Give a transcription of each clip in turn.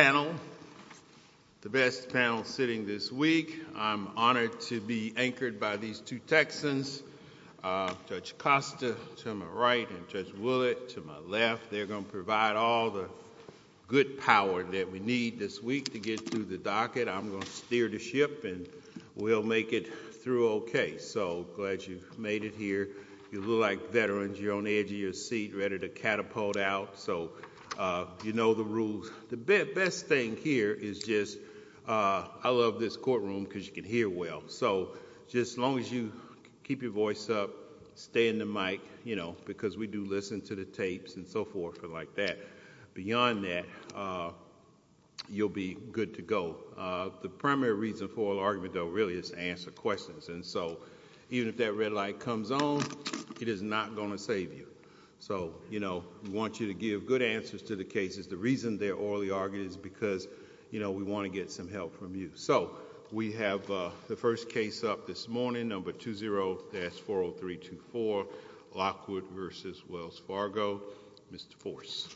panel, the best panel sitting this week. I'm honored to be anchored by these two Texans, Judge Costa to my right and Judge Willett to my left. They're going to provide all the good power that we need this week to get through the docket. I'm going to steer the ship and we'll make it through okay. So glad you've made it here. You look like veterans. You're on the edge of your seat ready to catapult out. So you know the rules. The best thing here is just I love this courtroom because you can hear well. So just as long as you keep your voice up, stay in the mic, you know, because we do listen to the tapes and so forth and like that. Beyond that, you'll be good to go. The primary reason for argument though really is to answer questions. And so even if that red light comes on, it is not going to save you. So, you know, we want you to give good answers to the cases. The reason they're orally argued is because, you know, we want to get some help from you. So we have the first case up this morning, number 20-40324, Lockwood v. Wells Fargo. Mr. Force.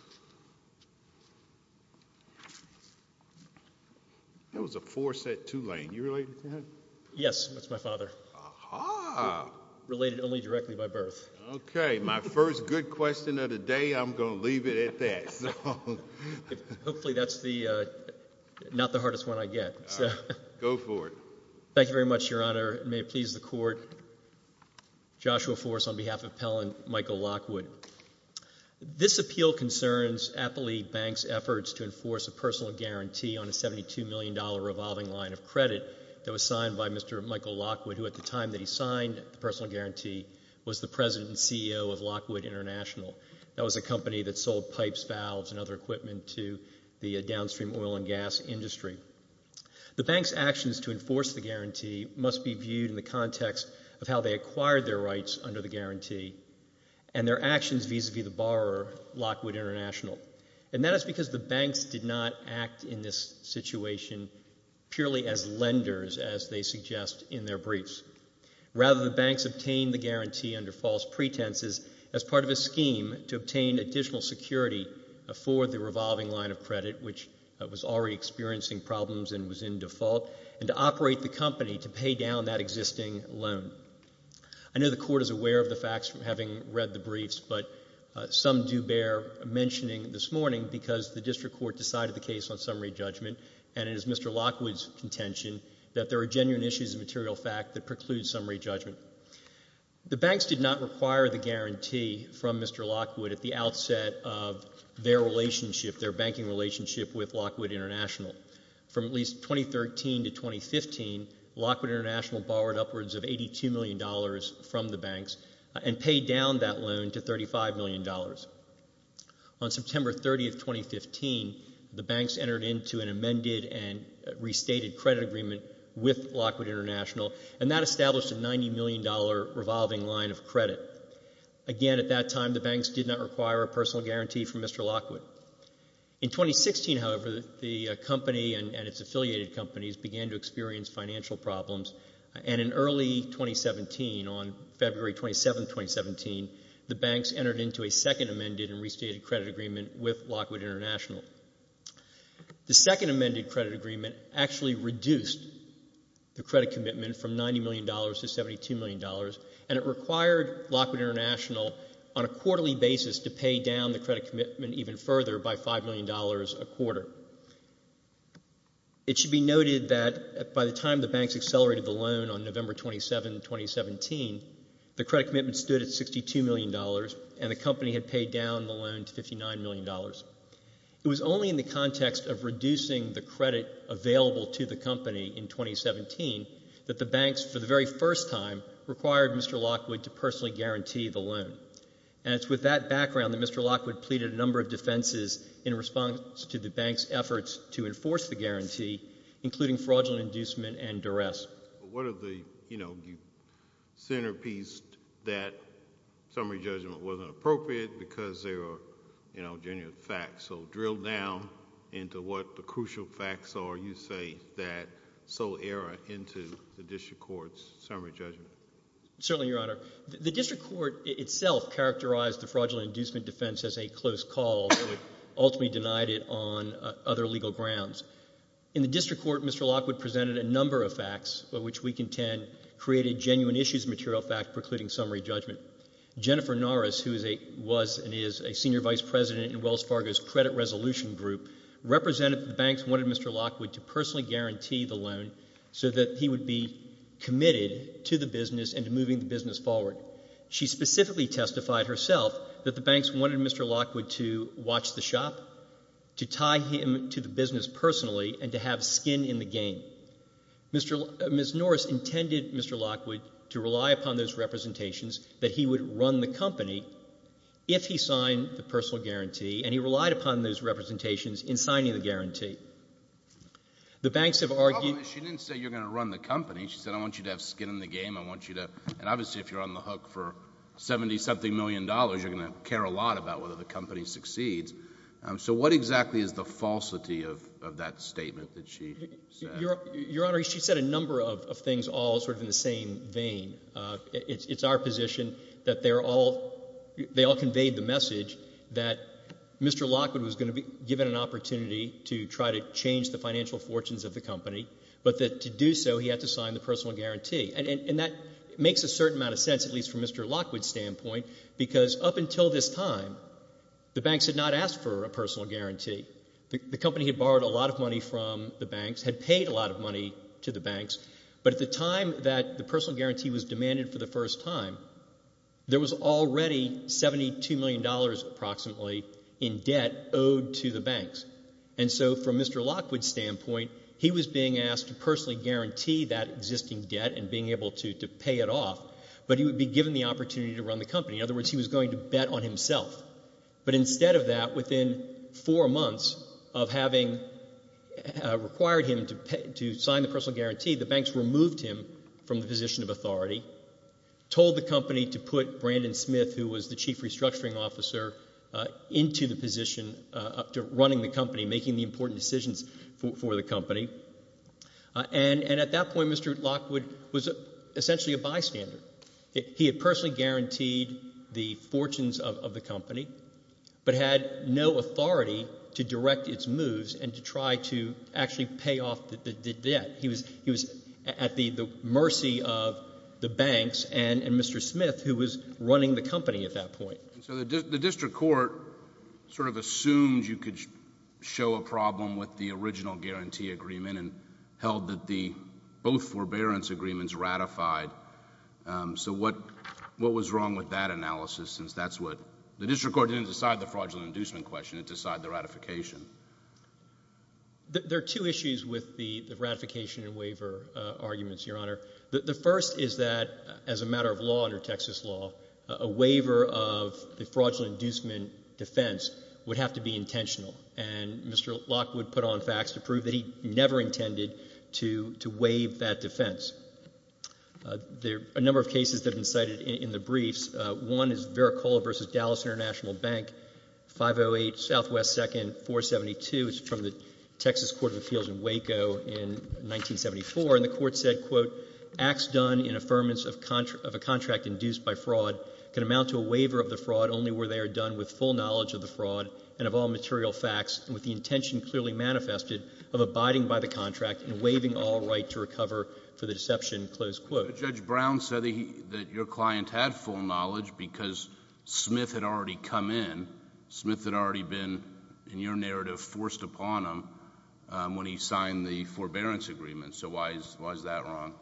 That was a force at Tulane. Are you related to that? Yes, that's my father. Aha. Related only directly by birth. Okay. My first good question of the day, I'm going to leave it at that. Hopefully that's not the hardest one I get. Go for it. Thank you very much, Your Honor. May it please the Court. Joshua Force on behalf of Pell and Michael Lockwood. This appeal concerns Appley Bank's efforts to enforce a personal guarantee on a $72 million revolving line of credit that was signed by Mr. Michael Lockwood, who at the time that he signed the personal guarantee was the president and CEO of Lockwood International. That was a company that sold pipes, valves and other equipment to the downstream oil and gas industry. The bank's actions to enforce the guarantee must be viewed in the context of how they acquired their rights under the guarantee and their actions vis-a-vis the borrower, Lockwood International. And that is because the banks did not act in this situation purely as lenders, as they suggest in their briefs. Rather, the banks obtained the guarantee under false pretenses as part of a scheme to obtain additional security for the revolving line of credit, which was already experiencing problems and was in default, and to operate the company to pay down that existing loan. I know the Court is aware of the facts from having read the briefs, but some do bear mentioning this morning because the district court decided the case on summary judgment, and it is Mr. Lockwood's contention that there are genuine issues of material fact that preclude summary judgment. The banks did not require the guarantee from Mr. Lockwood at the outset of their relationship, their banking relationship with Lockwood International. From at least 2013 to 2015, Lockwood International borrowed upwards of $82 million from the banks and paid down that loan to $35 million. On September 30, 2015, the banks entered into an amended and restated credit agreement with Lockwood International, and that established a $90 million revolving line of credit. Again, at that time, the banks did not require a personal guarantee from Mr. Lockwood. In 2016, however, the company and its affiliated companies began to experience financial problems, and in early 2017, on February 27, 2017, the banks entered into a second amended and restated credit agreement with Lockwood International. The second amended credit agreement actually reduced the credit commitment from $90 million to $72 million, and it required Lockwood International on a quarterly basis to pay down the credit commitment even further by $5 million a quarter. It should be noted that by the time the banks accelerated the loan on November 27, 2017, the credit commitment stood at $62 million, and the company had paid down the loan to $59 million. It was only in the context of reducing the credit available to the company in 2017 that the banks, for the very first time, required Mr. Lockwood to personally guarantee the loan. And it's with that background that Mr. Lockwood pleaded a number of defenses in response to the banks' efforts to enforce the guarantee, including fraudulent inducement and duress. What are the, you know, the centerpiece that summary judgment wasn't appropriate because there are, you know, genuine facts, so drill down into what the crucial facts are you say that sold error into the district court's summary judgment? Certainly, Your Honor. The district court itself characterized the fraudulent inducement defense as a close call, but it ultimately denied it on other legal grounds. In the district court, Mr. Lockwood presented a number of facts by which we contend created genuine issues material fact precluding summary judgment. Jennifer Norris, who is a, was and is a senior vice president in Wells Fargo's credit resolution group, represented the banks wanted Mr. Lockwood to personally guarantee the loan so that he would be committed to the business and to moving the business forward. She specifically testified herself that the banks wanted Mr. Lockwood to watch the shop, to tie him to the business personally, and to have skin in the game. Mr. — Ms. Norris intended Mr. Lockwood to rely upon those representations that he would run the company if he signed the personal guarantee, and he relied upon those representations in signing the guarantee. The banks have argued — She didn't say you're going to run the company. She said, I want you to have skin in the game. I want you to — and obviously, if you're on the hook for 70-something million dollars, you're going to care a lot about whether the company succeeds. So what exactly is the falsity of that statement that she said? Your Honor, she said a number of things all sort of in the same vein. It's our position that they are all — they all conveyed the message that Mr. Lockwood was going to be given an opportunity to try to change the financial fortunes of the company, but that to do so, he had to sign the personal guarantee. And that makes a certain amount of sense, at least from Mr. Lockwood's standpoint, because up until this time, the banks had not asked for a personal guarantee. The company had borrowed a lot of money from the banks, had paid a lot of money to the banks, but at the time that the personal guarantee was demanded for the first time, there was already $72 million approximately in debt owed to the banks. And so from Mr. Lockwood's standpoint, he was being asked to personally guarantee that existing debt and being able to pay it off, but he would be given the opportunity to run the company. In other words, he was going to bet on himself. But instead of that, within four months of having required him to sign the personal guarantee, the banks removed him from the position of authority, told the company to put Brandon Smith, who was the chief restructuring officer, into the position of running the company, making the important decisions for the company. And at that point, Mr. Lockwood was essentially a bystander. He had personally guaranteed the fortunes of the company but had no authority to direct its moves and to try to actually pay off the debt. He was at the mercy of the banks and Mr. Smith, who was running the company at that point. And so the district court sort of assumed you could show a problem with the original guarantee agreement and held that the both forbearance agreements ratified. So what was wrong with that analysis since that's what the district court didn't decide the fraudulent inducement question, it decided the ratification? There are two issues with the ratification and waiver arguments, Your Honor. The first is that as a matter of law under Texas law, a waiver of the fraudulent inducement defense would have to be intentional. And Mr. Lockwood put on facts to never intended to waive that defense. There are a number of cases that have been cited in the briefs. One is Veracola v. Dallas International Bank, 508 Southwest 2nd, 472. It's from the Texas Court of Appeals in Waco in 1974. And the court said, quote, acts done in affirmance of a contract induced by fraud can amount to a waiver of the fraud only where they are done with full knowledge of the fraud and of all material facts with the intention clearly manifested of abiding by the contract and waiving all right to recover for the deception, close quote. Judge Brown said that your client had full knowledge because Smith had already come in. Smith had already been, in your narrative, forced upon him when he signed the forbearance agreement. So why is that wrong?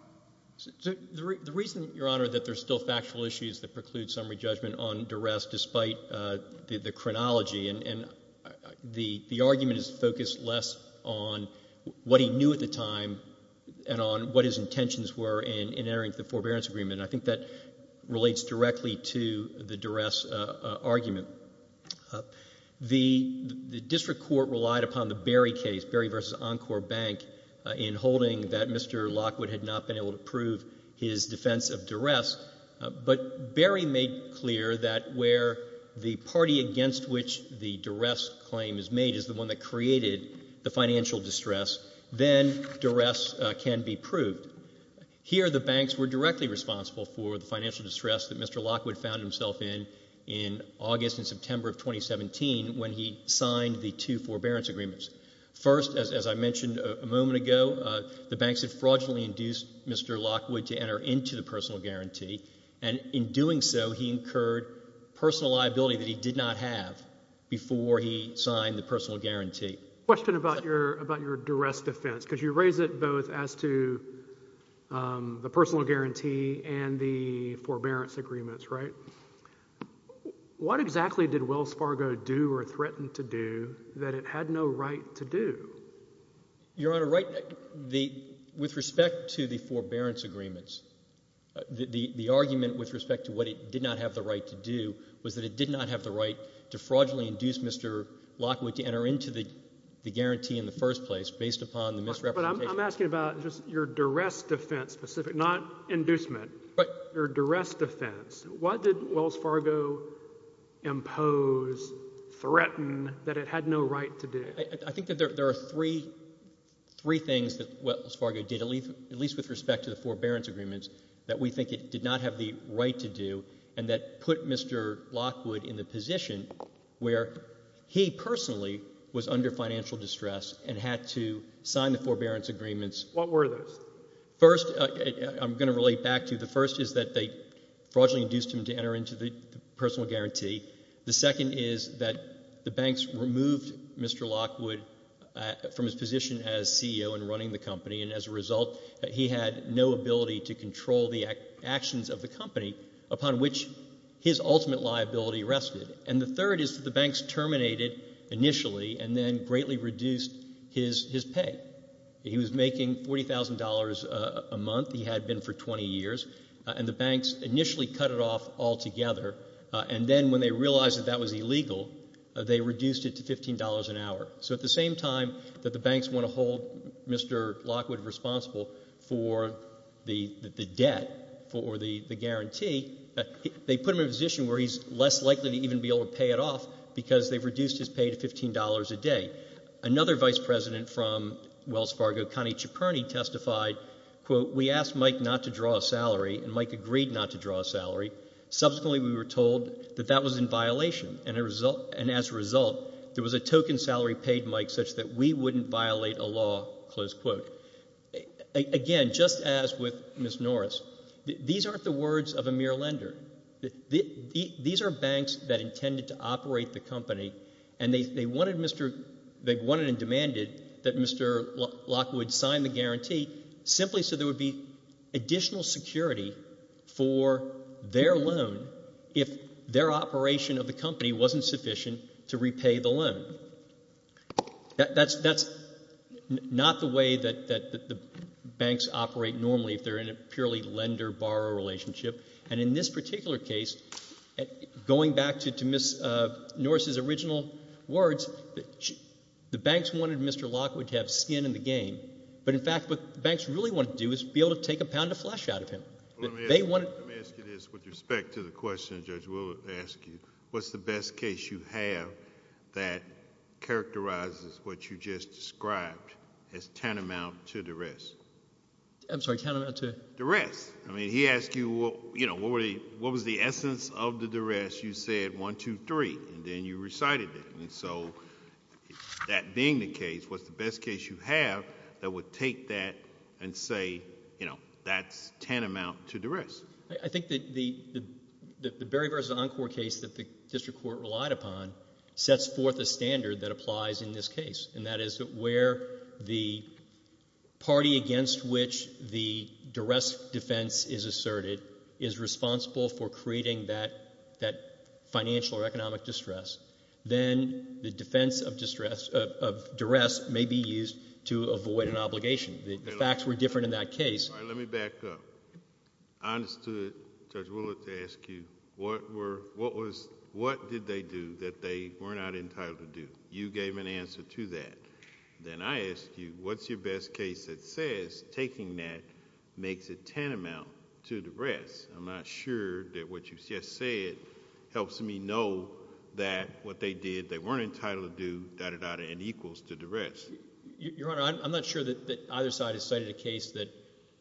The reason, Your Honor, that there's still factual issues that preclude summary judgment on duress despite the chronology. And the argument is focused less on what he knew at the time and on what his intentions were in entering the forbearance agreement. And I think that relates directly to the duress argument. The district court relied upon the Berry case, Berry v. Encore Bank, in holding that Mr. Lockwood had not been able to prove his defense of duress. But Berry made clear that where the party against which the duress claim is made is the one that created the financial distress, then duress can be proved. Here, the banks were directly responsible for the financial distress that Mr. Lockwood found himself in in August and September of 2017 when he signed the two forbearance agreements. First, as I mentioned a moment ago, the banks had fraudulently induced Mr. Lockwood to enter into the personal guarantee. And in doing so, he incurred personal liability that he did not have before he signed the personal guarantee. Question about your duress defense, because you raise it both as to the personal guarantee and the forbearance agreements, right? What exactly did Wells Fargo do or threaten to do that it had no right to do? Your Honor, with respect to the forbearance agreements, the argument with respect to what it did not have the right to do was that it did not have the right to fraudulently induce Mr. Lockwood to enter into the guarantee in the first place based upon the misrepresentation. But I'm asking about just your duress defense specific, not inducement. Right. Your duress defense. What did Wells Fargo impose, threaten that it had no right to do? I think that there are three things that Wells Fargo did, at least with respect to the forbearance agreements, that we think it did not have the right to do and that put Mr. Lockwood in the position where he personally was under financial distress and had to sign the forbearance agreements. What were those? First, I'm going to relate back to, the first is that they fraudulently induced him to enter into the personal guarantee. The second is that the banks removed Mr. Lockwood from his position as CEO and running the company and as a result he had no ability to control the actions of the company upon which his ultimate liability rested. And the third is that the banks terminated initially and then greatly reduced his pay. He was making $40,000 a month. He had been for 20 years and the banks initially cut it off altogether and then when they realized that that was illegal, they reduced it to $15 an hour. So at the same time that the banks want to hold Mr. Lockwood responsible for the debt, for the guarantee, they put him in a position where he's less likely to even be able to pay it off because they've reduced his pay to $15 a day. Another vice president from Wells Fargo, Connie Ciperni, testified, quote, we asked Mike not to draw a salary and Mike agreed not to draw a salary. Subsequently we were told that that was in violation and as a result there was a token salary paid Mike such that we wouldn't violate a law, close quote. Again, just as with Ms. Norris, these aren't the words of a mere lender. These are banks that intended to operate the company and they wanted and demanded that Mr. Lockwood sign the guarantee simply so there would be additional security for their loan if their operation of the company wasn't sufficient to repay the loan. That's not the way that the banks operate normally if they're in a purely lender-borrower relationship and in this particular case, going back to Ms. Norris' original words, the banks wanted Mr. Lockwood to have skin in the game. But in fact, what the banks really wanted to do was be able to take a pound of flesh out of him. Let me ask you this with respect to the question, Judge. We'll ask you, what's the best case you have that characterizes what you just described as tantamount to duress? I'm sorry, tantamount to? Duress. I mean, he asked you, you know, what was the essence of the duress? You said, one, two, three, and then you recited it. So that being the case, what's the best case you have that would take that and say, you know, that's tantamount to duress? I think that the Berry v. Encore case that the District Court relied upon sets forth a standard that applies in this case, and that is where the party against which the duress defense is asserted is responsible for creating that financial or economic distress. Then the defense of duress may be used to avoid an obligation. The facts were different in that case. All right, let me back up. I understood, Judge Willard, to ask you, what did they do that they were not entitled to do? You gave an answer to that. Then I ask you, what's your best case that says taking that makes it tantamount to duress? I'm not sure that what you just said helps me know that what they did, they weren't entitled to do, da-da-da, and equals to duress. Your Honor, I'm not sure that either side has cited a case that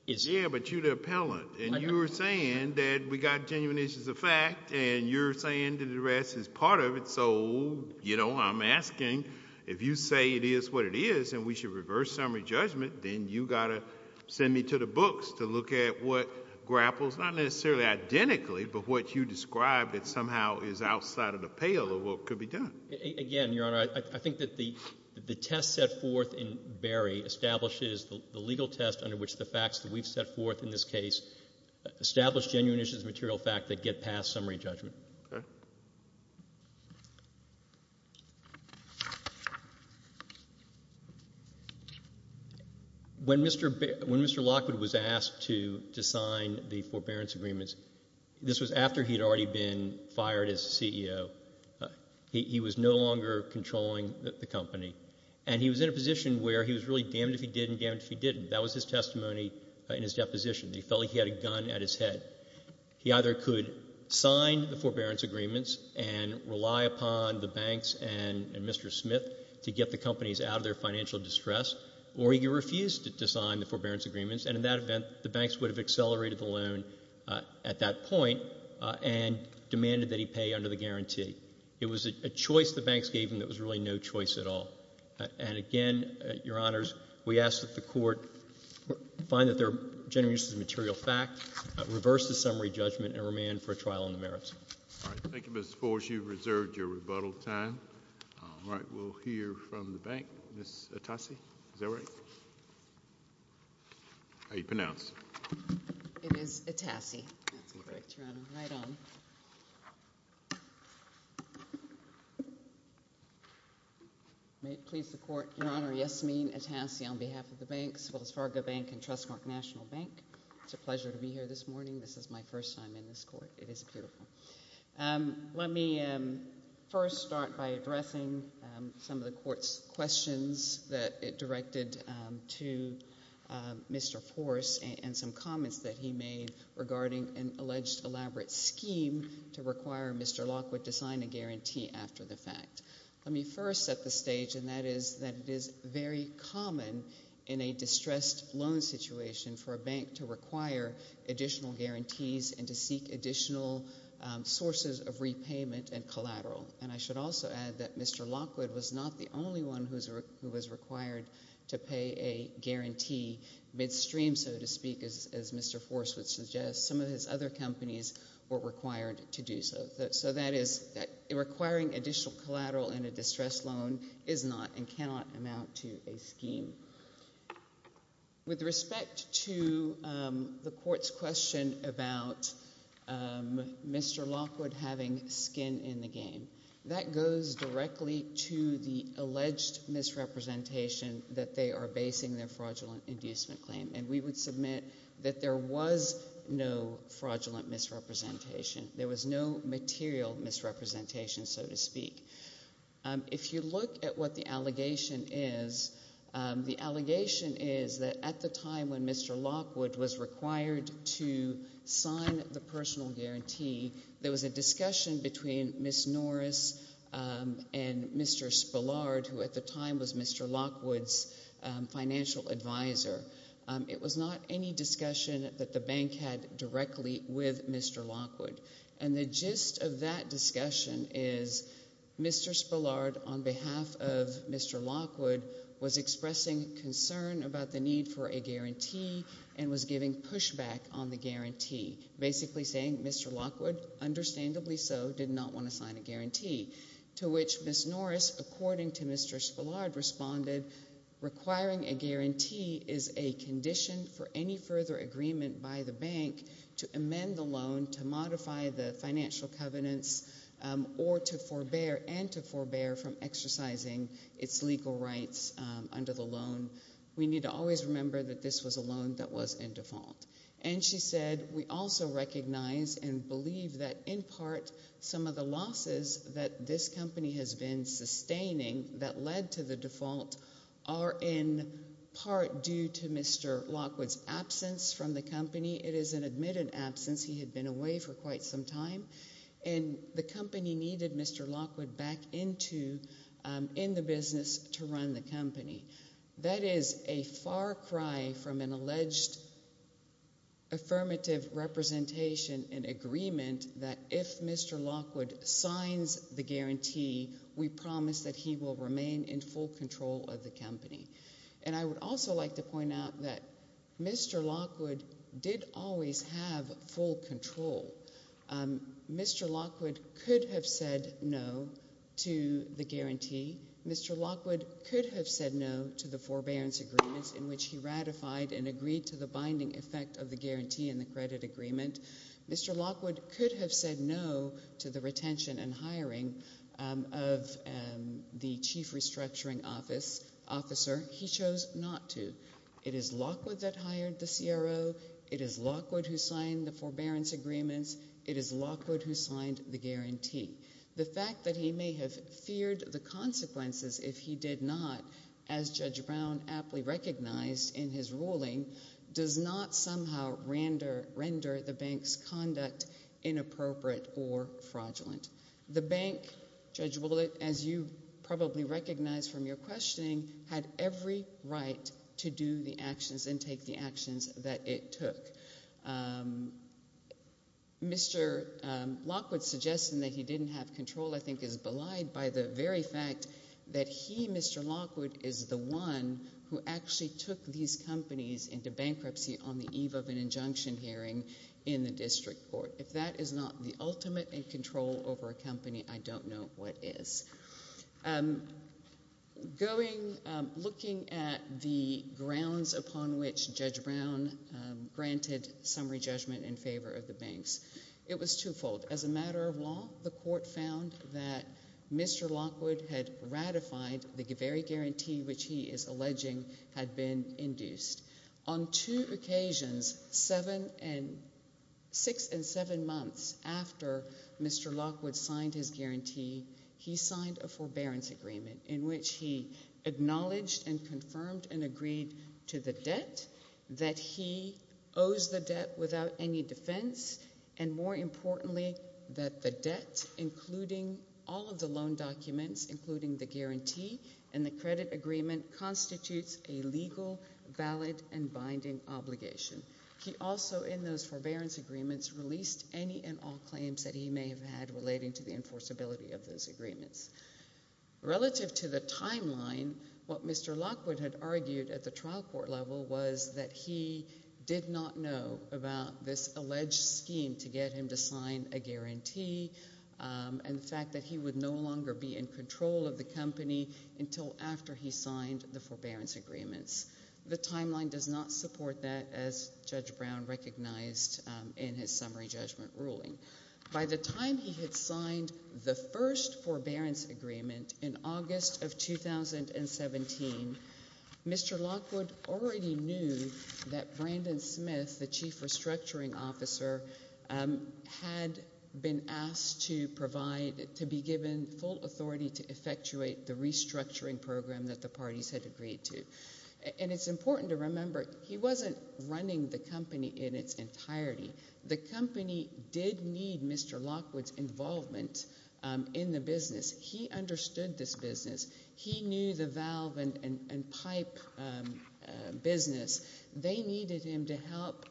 is... Yeah, but you're the appellant, and you're saying that we got genuineness as a fact, and you're saying that duress is part of it. I'm asking, if you say it is what it is, and we should reverse summary judgment, then you got to send me to the books to look at what grapples, not necessarily identically, but what you described that somehow is outside of the pale of what could be done. Again, Your Honor, I think that the test set forth in Berry establishes the legal test under which the facts that we've set forth in this case establish genuineness as a material fact that get past summary judgment. When Mr. Lockwood was asked to sign the forbearance agreements, this was after he had already been fired as CEO. He was no longer controlling the company, and he was in a position where he was really damned if he did and damned if he didn't. That was his testimony in his deposition. He felt like he had a gun at his head. He either could sign the forbearance agreements and rely upon the banks and Mr. Smith to get the companies out of their financial distress, or he refused to sign the forbearance agreements, and in that event, the banks would have accelerated the loan at that point and demanded that he pay under the guarantee. It was a choice the banks gave him that was really no choice at all. And again, Your Honors, we ask that the Court find that there are genuineness as a material fact that get past summary judgment and demand for a trial on the merits. All right. Thank you, Mr. Forge. You've reserved your rebuttal time. All right. We'll hear from the bank. Ms. Atassi, is that right? How do you pronounce? It is Atassi. That's correct, Your Honor. Right on. May it please the Court, Your Honor, Yasmeen Atassi on behalf of the banks, Wells Fargo Bank and Trustmark National Bank. It's a pleasure to be here this morning. This is my first time in this Court. It is beautiful. Let me first start by addressing some of the Court's questions that it directed to Mr. Forse and some comments that he made regarding an alleged elaborate scheme to require Mr. Lockwood to sign a guarantee after the fact. Let me first set the stage, and that is that it is very common in a distressed loan situation for a bank to require additional guarantees and to seek additional sources of repayment and collateral. And I should also add that Mr. Lockwood was not the only one who was required to pay a guarantee midstream, so to speak, as Mr. Forse would suggest. Some of his other companies were required to do so. So that is, requiring additional collateral in a distressed loan is not and cannot amount to a scheme. With respect to the Court's question about Mr. Lockwood having skin in the game, that goes directly to the alleged misrepresentation that they are basing their fraudulent inducement claim. And we would submit that there was no fraudulent misrepresentation. There was no material misrepresentation, so to speak. If you look at what the allegation is, the allegation is that at the time when Mr. Lockwood was required to sign the personal guarantee, there was a discussion between Ms. Norris and Mr. Spillard, who at the time was Mr. Lockwood's financial advisor. It was not any discussion that the bank had directly with Mr. Lockwood. And the gist of that discussion is Mr. Spillard, on behalf of Mr. Lockwood, was expressing concern about the need for a guarantee and was giving pushback on the guarantee, basically saying Mr. Lockwood, understandably so, did not want to sign a guarantee, to which Ms. Norris, according to Mr. Spillard, responded, requiring a guarantee is a condition for any agreement by the bank to amend the loan, to modify the financial covenants, or to forbear and to forbear from exercising its legal rights under the loan. We need to always remember that this was a loan that was in default. And she said, we also recognize and believe that, in part, some of the losses that this from the company. It is an admitted absence. He had been away for quite some time. And the company needed Mr. Lockwood back into the business to run the company. That is a far cry from an alleged affirmative representation and agreement that if Mr. Lockwood signs the guarantee, we promise that he will remain in full control of the company. And I would also like to point out that Mr. Lockwood did always have full control. Mr. Lockwood could have said no to the guarantee. Mr. Lockwood could have said no to the forbearance agreements in which he ratified and agreed to the binding effect of the guarantee and the credit agreement. Mr. Lockwood could have said no to the retention and hiring of the chief restructuring officer he chose not to. It is Lockwood that hired the CRO. It is Lockwood who signed the forbearance agreements. It is Lockwood who signed the guarantee. The fact that he may have feared the consequences if he did not, as Judge Brown aptly recognized in his ruling, does not somehow render the bank's conduct inappropriate or fraudulent. The bank, Judge Willett, as you probably recognize from your questioning, had every right to do the actions and take the actions that it took. Mr. Lockwood's suggestion that he didn't have control I think is belied by the very fact that he, Mr. Lockwood, is the one who actually took these companies into bankruptcy on the eve of an injunction hearing in the district court. If that is not the ultimate in control over a company, I don't know what is. Looking at the grounds upon which Judge Brown granted summary judgment in favor of the banks, it was twofold. As a matter of law, the court found that Mr. Lockwood had ratified the very guarantee which he is alleging had been induced. On two occasions, six and seven months after Mr. Lockwood signed his guarantee, he signed a forbearance agreement in which he acknowledged and confirmed and agreed to the debt, that he owes the debt without any defense, and more importantly, that the debt, including all of the loan documents, including the guarantee and the credit agreement, constitutes a legal, valid, and binding obligation. He also, in those forbearance agreements, released any and all claims that he may have had relating to the enforceability of those agreements. Relative to the timeline, what Mr. Lockwood had argued at the trial court level was that he did not know about this alleged scheme to get him to sign a guarantee and the fact that he would no longer be in control of the company until after he signed the forbearance agreements. The timeline does not support that, as Judge Brown recognized in his summary judgment ruling. By the time he had signed the first forbearance agreement in August of 2017, Mr. Lockwood already knew that Brandon Smith, the chief restructuring officer, had been asked to provide, to be given full authority to effectuate the restructuring program that the parties had agreed to. And it's important to remember, he wasn't running the company in its entirety. The company did need Mr. Lockwood's involvement in the business. He understood this business. He knew the valve and pipe business. They needed him to help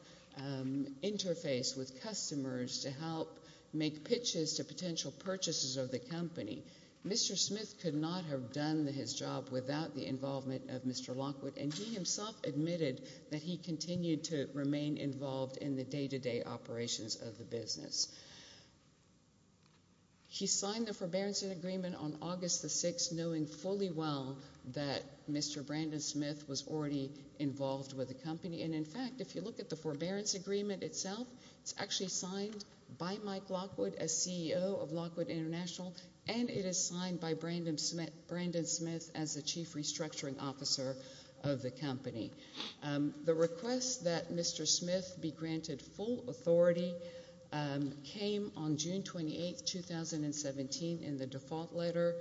interface with customers, to help make pitches to potential purchases of the company. Mr. Smith could not have done his job without the involvement of Mr. Lockwood, and he himself admitted that he continued to remain involved in the day-to-day operations of the business. He signed the forbearance agreement on August the 6th, knowing fully well that Mr. Brandon Smith was already involved with the company. And in fact, if you look at the forbearance agreement itself, it's actually signed by Brandon Smith as the chief restructuring officer of the company. The request that Mr. Smith be granted full authority came on June 28, 2017, in the default letter,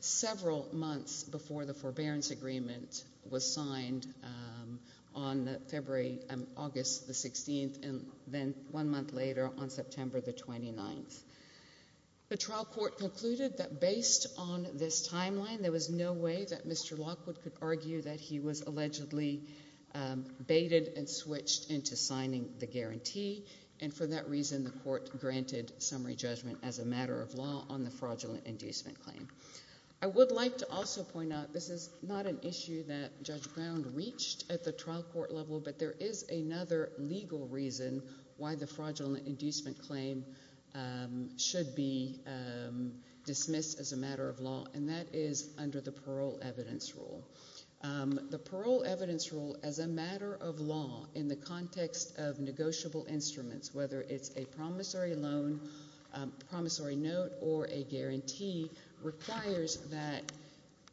several months before the forbearance agreement was signed on August the 16th, and then one month later, on September the 29th. The trial court concluded that based on this timeline, there was no way that Mr. Lockwood could argue that he was allegedly baited and switched into signing the guarantee. And for that reason, the court granted summary judgment as a matter of law on the fraudulent inducement claim. I would like to also point out, this is not an issue that Judge Brown reached at the trial should be dismissed as a matter of law, and that is under the parole evidence rule. The parole evidence rule, as a matter of law in the context of negotiable instruments, whether it's a promissory loan, promissory note, or a guarantee, requires that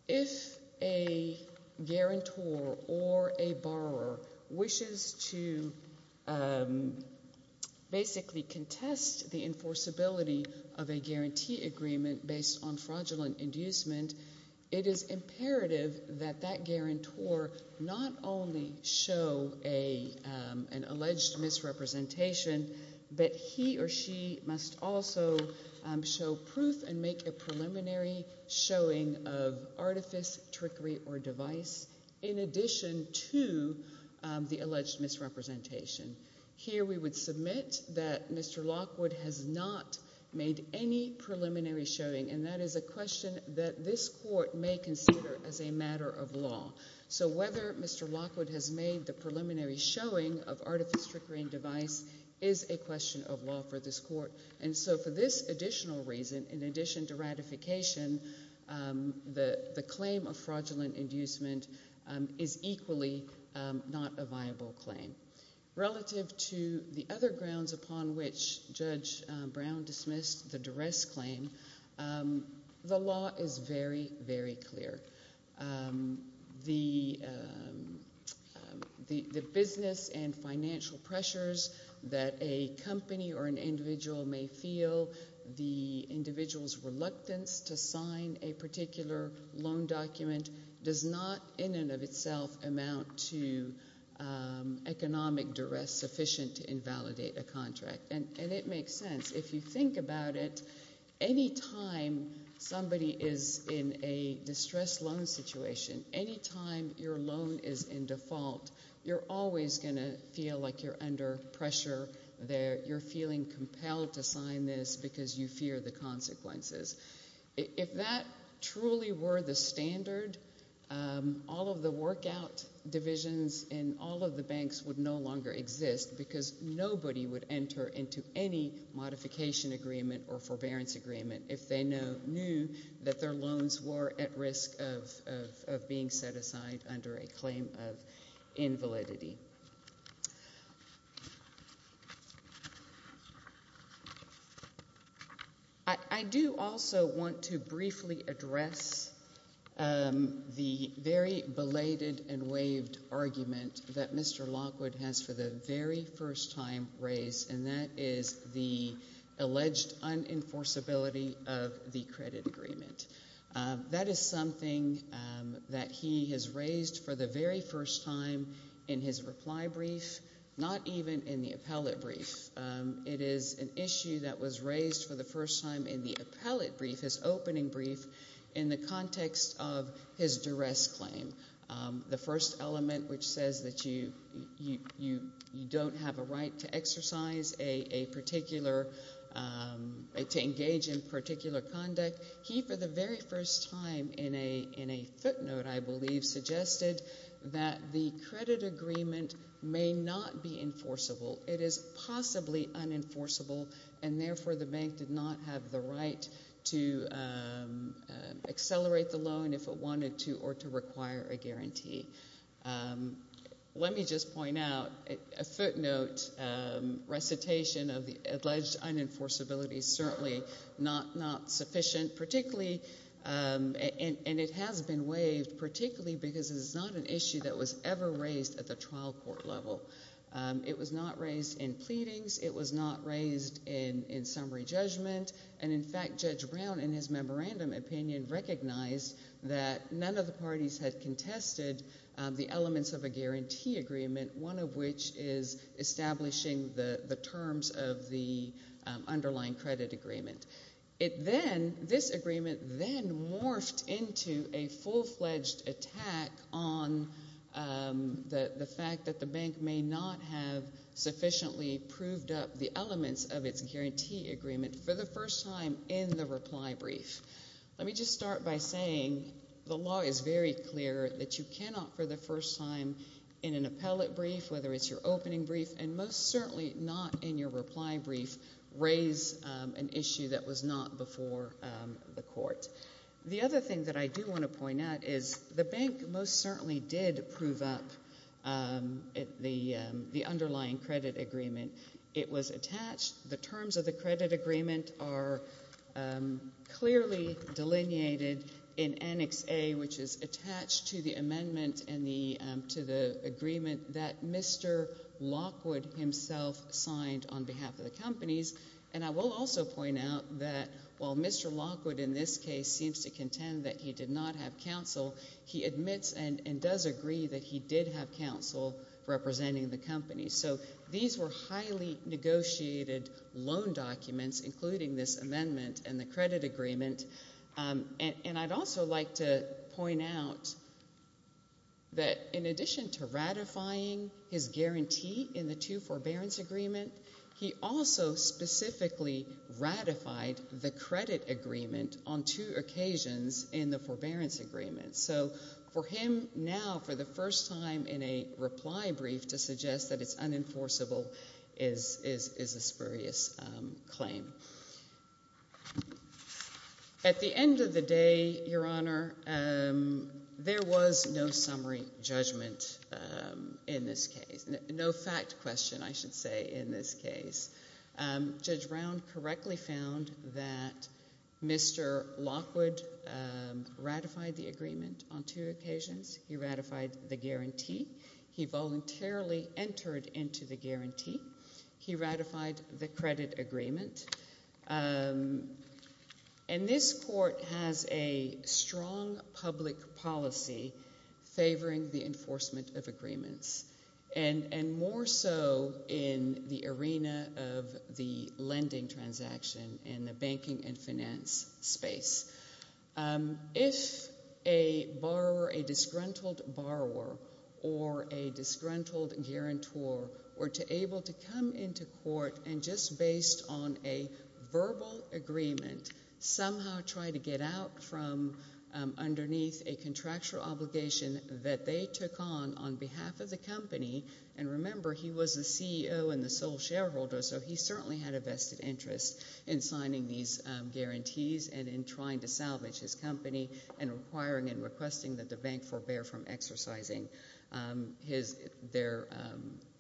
if a guarantor or a borrower wishes to basically contest the enforceability of a guarantee agreement based on fraudulent inducement, it is imperative that that guarantor not only show an alleged misrepresentation, but he or she must also show proof and make a preliminary showing of artifice, trickery, or device. In addition to the alleged misrepresentation, here we would submit that Mr. Lockwood has not made any preliminary showing, and that is a question that this court may consider as a matter of law. So whether Mr. Lockwood has made the preliminary showing of artifice, trickery, and device is a question of law for this court. And so for this additional reason, in addition to ratification, the claim of fraudulent inducement is equally not a viable claim. Relative to the other grounds upon which Judge Brown dismissed the duress claim, the law is very, very clear. The business and financial pressures that a company or an individual may feel, the individual's does not in and of itself amount to economic duress sufficient to invalidate a contract. And it makes sense. If you think about it, any time somebody is in a distressed loan situation, any time your loan is in default, you're always going to feel like you're under pressure, you're feeling compelled to sign this because you fear the consequences. If that truly were the standard, all of the workout divisions in all of the banks would no longer exist because nobody would enter into any modification agreement or forbearance agreement if they knew that their loans were at risk of being set aside under a claim of invalidity. I do also want to briefly address the very belated and waived argument that Mr. Lockwood has for the very first time raised, and that is the alleged unenforceability of the credit agreement. That is something that he has raised for the very first time in his reply brief, not even in the appellate brief. It is an issue that was raised for the first time in the appellate brief, his opening brief, in the context of his duress claim, the first element which says that you don't have a right to exercise a particular, to engage in particular conduct. He, for the very first time in a footnote, I believe, suggested that the credit agreement may not be enforceable. It is possibly unenforceable, and therefore the bank did not have the right to accelerate the loan if it wanted to or to require a guarantee. Let me just point out, a footnote recitation of the alleged unenforceability is certainly not sufficient, particularly, and it has been waived particularly because it is not an issue that was ever raised at the trial court level. It was not raised in pleadings. It was not raised in summary judgment. And in fact, Judge Brown, in his memorandum opinion, recognized that none of the parties had contested the elements of a guarantee agreement, one of which is establishing the It then, this agreement then morphed into a full-fledged attack on the fact that the bank may not have sufficiently proved up the elements of its guarantee agreement for the first time in the reply brief. Let me just start by saying the law is very clear that you cannot, for the first time, in an appellate brief, whether it's your opening brief, and most certainly not in your reply brief, raise an issue that was not before the court. The other thing that I do want to point out is the bank most certainly did prove up the underlying credit agreement. It was attached. The terms of the credit agreement are clearly delineated in Annex A, which is attached to the agreement that Mr. Lockwood himself signed on behalf of the companies. And I will also point out that while Mr. Lockwood in this case seems to contend that he did not have counsel, he admits and does agree that he did have counsel representing the company. So these were highly negotiated loan documents, including this amendment and the credit agreement. And I'd also like to point out that in addition to ratifying his guarantee in the two forbearance agreement, he also specifically ratified the credit agreement on two occasions in the forbearance agreement. So for him now, for the first time in a reply brief, to suggest that it's unenforceable is a spurious claim. At the end of the day, Your Honor, there was no summary judgment in this case. No fact question, I should say, in this case. Judge Brown correctly found that Mr. Lockwood ratified the agreement on two occasions. He ratified the guarantee. He voluntarily entered into the guarantee. He ratified the credit agreement. And this Court has a strong public policy favoring the enforcement of agreements, and more so in the arena of the lending transaction in the banking and finance space. If a borrower, a disgruntled borrower or a disgruntled guarantor were able to come into verbal agreement, somehow try to get out from underneath a contractual obligation that they took on on behalf of the company, and remember, he was the CEO and the sole shareholder, so he certainly had a vested interest in signing these guarantees and in trying to salvage his company and requiring and requesting that the bank forbear from exercising their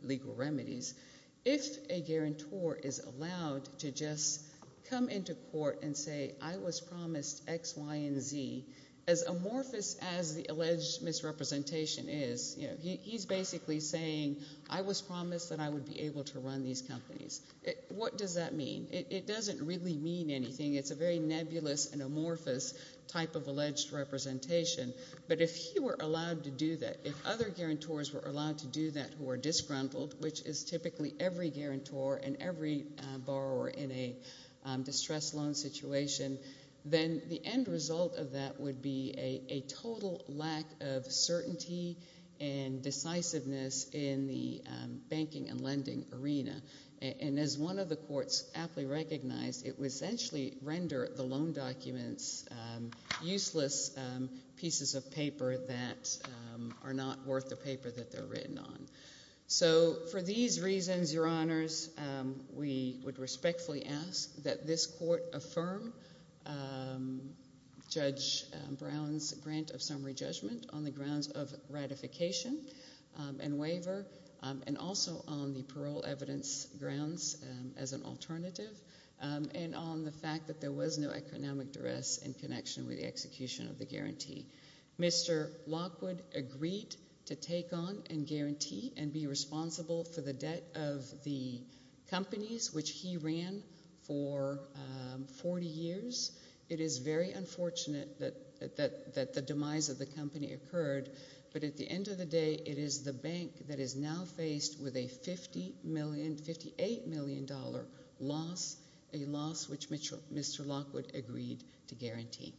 legal remedies, if a guarantor is allowed to just come into court and say, I was promised X, Y, and Z, as amorphous as the alleged misrepresentation is, you know, he's basically saying, I was promised that I would be able to run these companies. What does that mean? It doesn't really mean anything. It's a very nebulous and amorphous type of alleged representation. But if he were allowed to do that, if other guarantors were allowed to do that who are disgruntled, which is typically every guarantor and every borrower in a distressed loan situation, then the end result of that would be a total lack of certainty and decisiveness in the banking and lending arena. And as one of the courts aptly recognized, it would essentially render the loan documents useless pieces of paper that are not worth the paper that they're written on. So for these reasons, Your Honors, we would respectfully ask that this court affirm Judge Brown's grant of summary judgment on the grounds of ratification and waiver, and also on the parole evidence grounds as an alternative, and on the fact that there was no economic duress in connection with the execution of the guarantee. Mr. Lockwood agreed to take on and guarantee and be responsible for the debt of the companies which he ran for 40 years. It is very unfortunate that the demise of the company occurred, but at the end of the day, it is the bank that is now faced with a $58 million loss, a loss which Mr. Lockwood agreed to guarantee.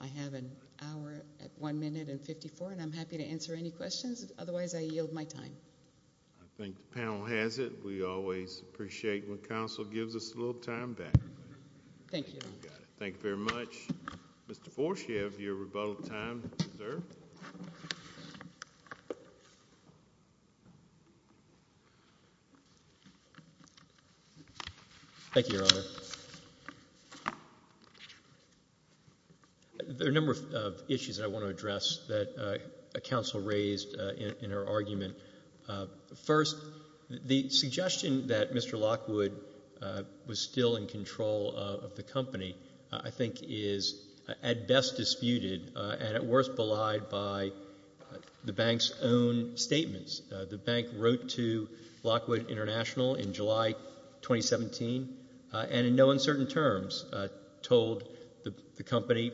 I have an hour, one minute, and 54, and I'm happy to answer any questions. Otherwise, I yield my time. I think the panel has it. We always appreciate when counsel gives us a little time back. Thank you, Your Honor. Thank you very much. Mr. Forshev, your rebuttal time is observed. Thank you, Your Honor. There are a number of issues that I want to address that counsel raised in her argument. First, the suggestion that Mr. Lockwood was still in control of the company, I think, is at best disputed and at worst belied by the bank's own statements. The bank wrote to Lockwood International in July 2017 and in no uncertain terms told the company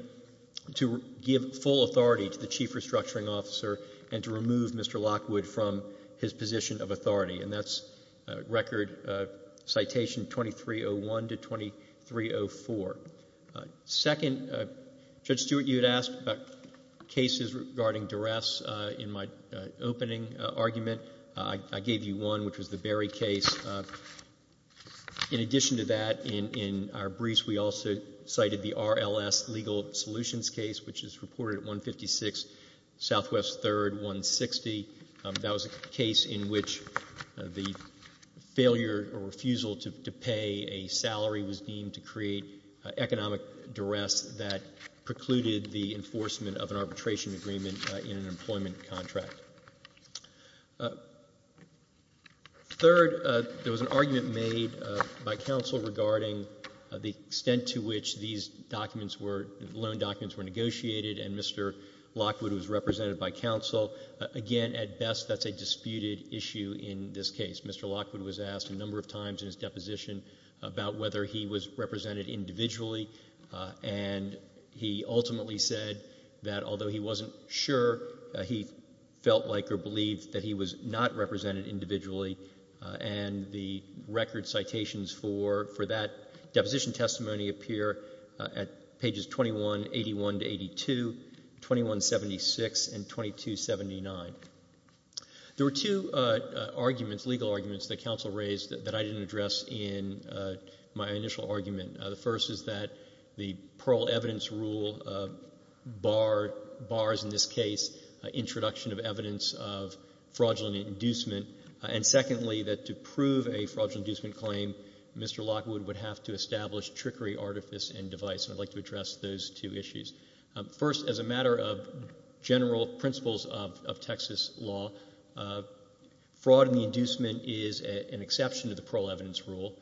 to give full authority to the chief restructuring officer and to remove Mr. Lockwood from his position of authority, and that's record citation 2301 to 2304. Second, Judge Stewart, you had asked about cases regarding duress in my opening argument. I gave you one, which was the Berry case. In addition to that, in our briefs, we also cited the RLS legal solutions case, which is reported at 156 Southwest 3rd, 160. That was a case in which the failure or refusal to pay a salary was deemed to create economic duress that precluded the enforcement of an arbitration agreement in an employment contract. Third, there was an argument made by counsel regarding the extent to which these documents were, loan documents were negotiated, and Mr. Lockwood was represented by counsel. Again, at best, that's a disputed issue in this case. Mr. Lockwood was asked a number of times in his deposition about whether he was represented like or believed that he was not represented individually, and the record citations for that deposition testimony appear at pages 2181 to 82, 2176, and 2279. There were two arguments, legal arguments, that counsel raised that I didn't address in my initial argument. The first is that the parole evidence rule bars, in this case, introduction of evidence of fraudulent inducement, and secondly, that to prove a fraudulent inducement claim, Mr. Lockwood would have to establish trickery, artifice, and device, and I'd like to address those two issues. First, as a matter of general principles of Texas law, fraud in the inducement is an exception to the parole evidence rule,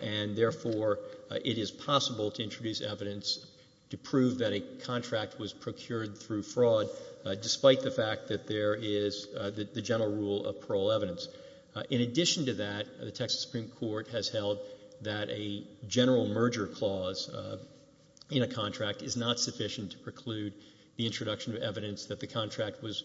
and therefore, it is possible to introduce evidence to prove that a contract was procured through fraud, despite the fact that there is the general rule of parole evidence. In addition to that, the Texas Supreme Court has held that a general merger clause in a contract is not sufficient to preclude the introduction of evidence that the contract was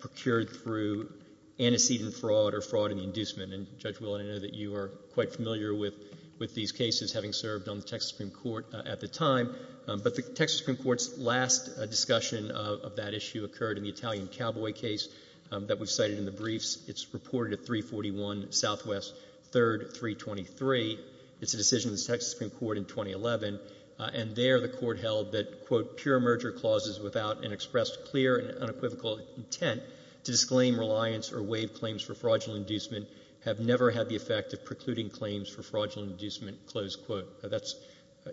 procured through antecedent fraud or fraud in the inducement, and Judge Willen, I know that you are quite familiar with these cases, having served on the Texas Supreme Court at the time, but the Texas Supreme Court's last discussion of that issue occurred in the Italian cowboy case that we've cited in the briefs. It's reported at 341 Southwest 3rd, 323. It's a decision of the Texas Supreme Court in 2011, and there, the Court held that, quote, pure merger clauses without an expressed clear and unequivocal intent to disclaim reliance or waive claims for fraudulent inducement have never had the effect of precluding claims for fraudulent inducement, close quote. That's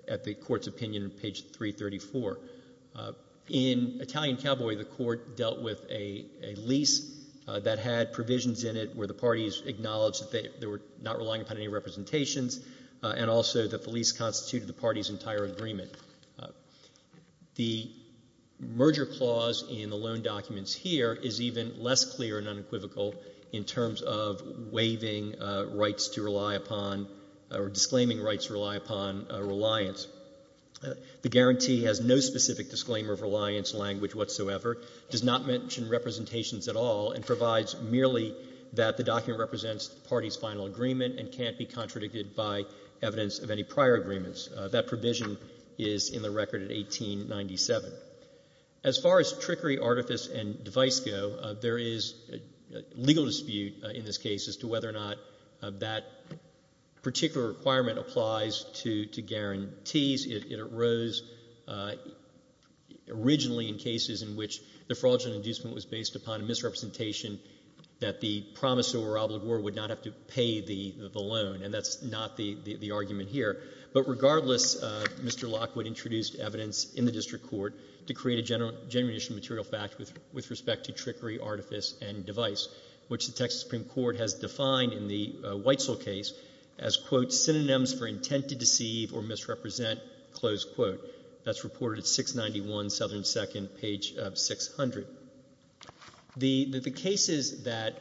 at the Court's opinion on page 334. In Italian cowboy, the Court dealt with a lease that had provisions in it where the parties acknowledged that they were not relying upon any representations, and also that the lease constituted the party's entire agreement. The merger clause in the loan documents here is even less clear and unequivocal in terms of waiving rights to rely upon or disclaiming rights to rely upon reliance. The guarantee has no specific disclaimer of reliance language whatsoever, does not mention representations at all, and provides merely that the document represents the party's final agreement and can't be contradicted by evidence of any prior agreements. That provision is in the record at 1897. As far as trickery, artifice, and device go, there is a legal dispute in this case as to whether or not that particular requirement applies to guarantees. It arose originally in cases in which the fraudulent inducement was based upon a misrepresentation that the promisor or obligor would not have to pay the loan, and that's not the argument here. But regardless, Mr. Lockwood introduced evidence in the district court to create a general issue material fact with respect to trickery, artifice, and device, which the Texas Supreme Court has defined in the Whitesell case as, quote, synonyms for intent to deceive or misrepresent, close quote. That's reported at 691 Southern 2nd, page 600. The cases that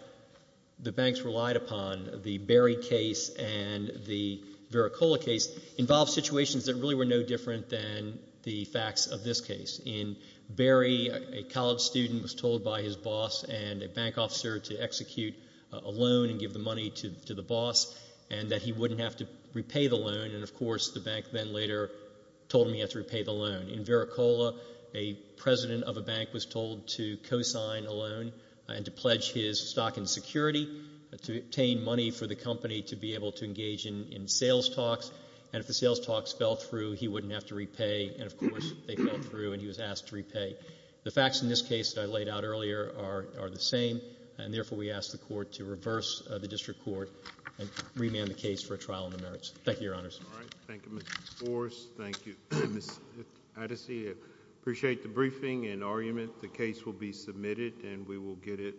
the banks relied upon, the Berry case and the Vericola case, involved situations that really were no different than the facts of this case. In Berry, a college student was told by his boss and a bank officer to execute a loan and give the money to the boss, and that he wouldn't have to repay the loan. And of course, the bank then later told him he had to repay the loan. In Vericola, a president of a bank was told to cosign a loan and to pledge his stock and security to obtain money for the company to be able to engage in sales talks, and if the sales talks fell through, he wouldn't have to repay, and of course, they fell through and he was asked to repay. The facts in this case that I laid out earlier are the same, and therefore, we ask the court to reverse the district court and remand the case for a trial in the merits. Thank you, Your Honors. All right. Thank you, Mr. Forrest. Thank you, Ms. Addisey. I appreciate the briefing and argument. The case will be submitted and we will get it.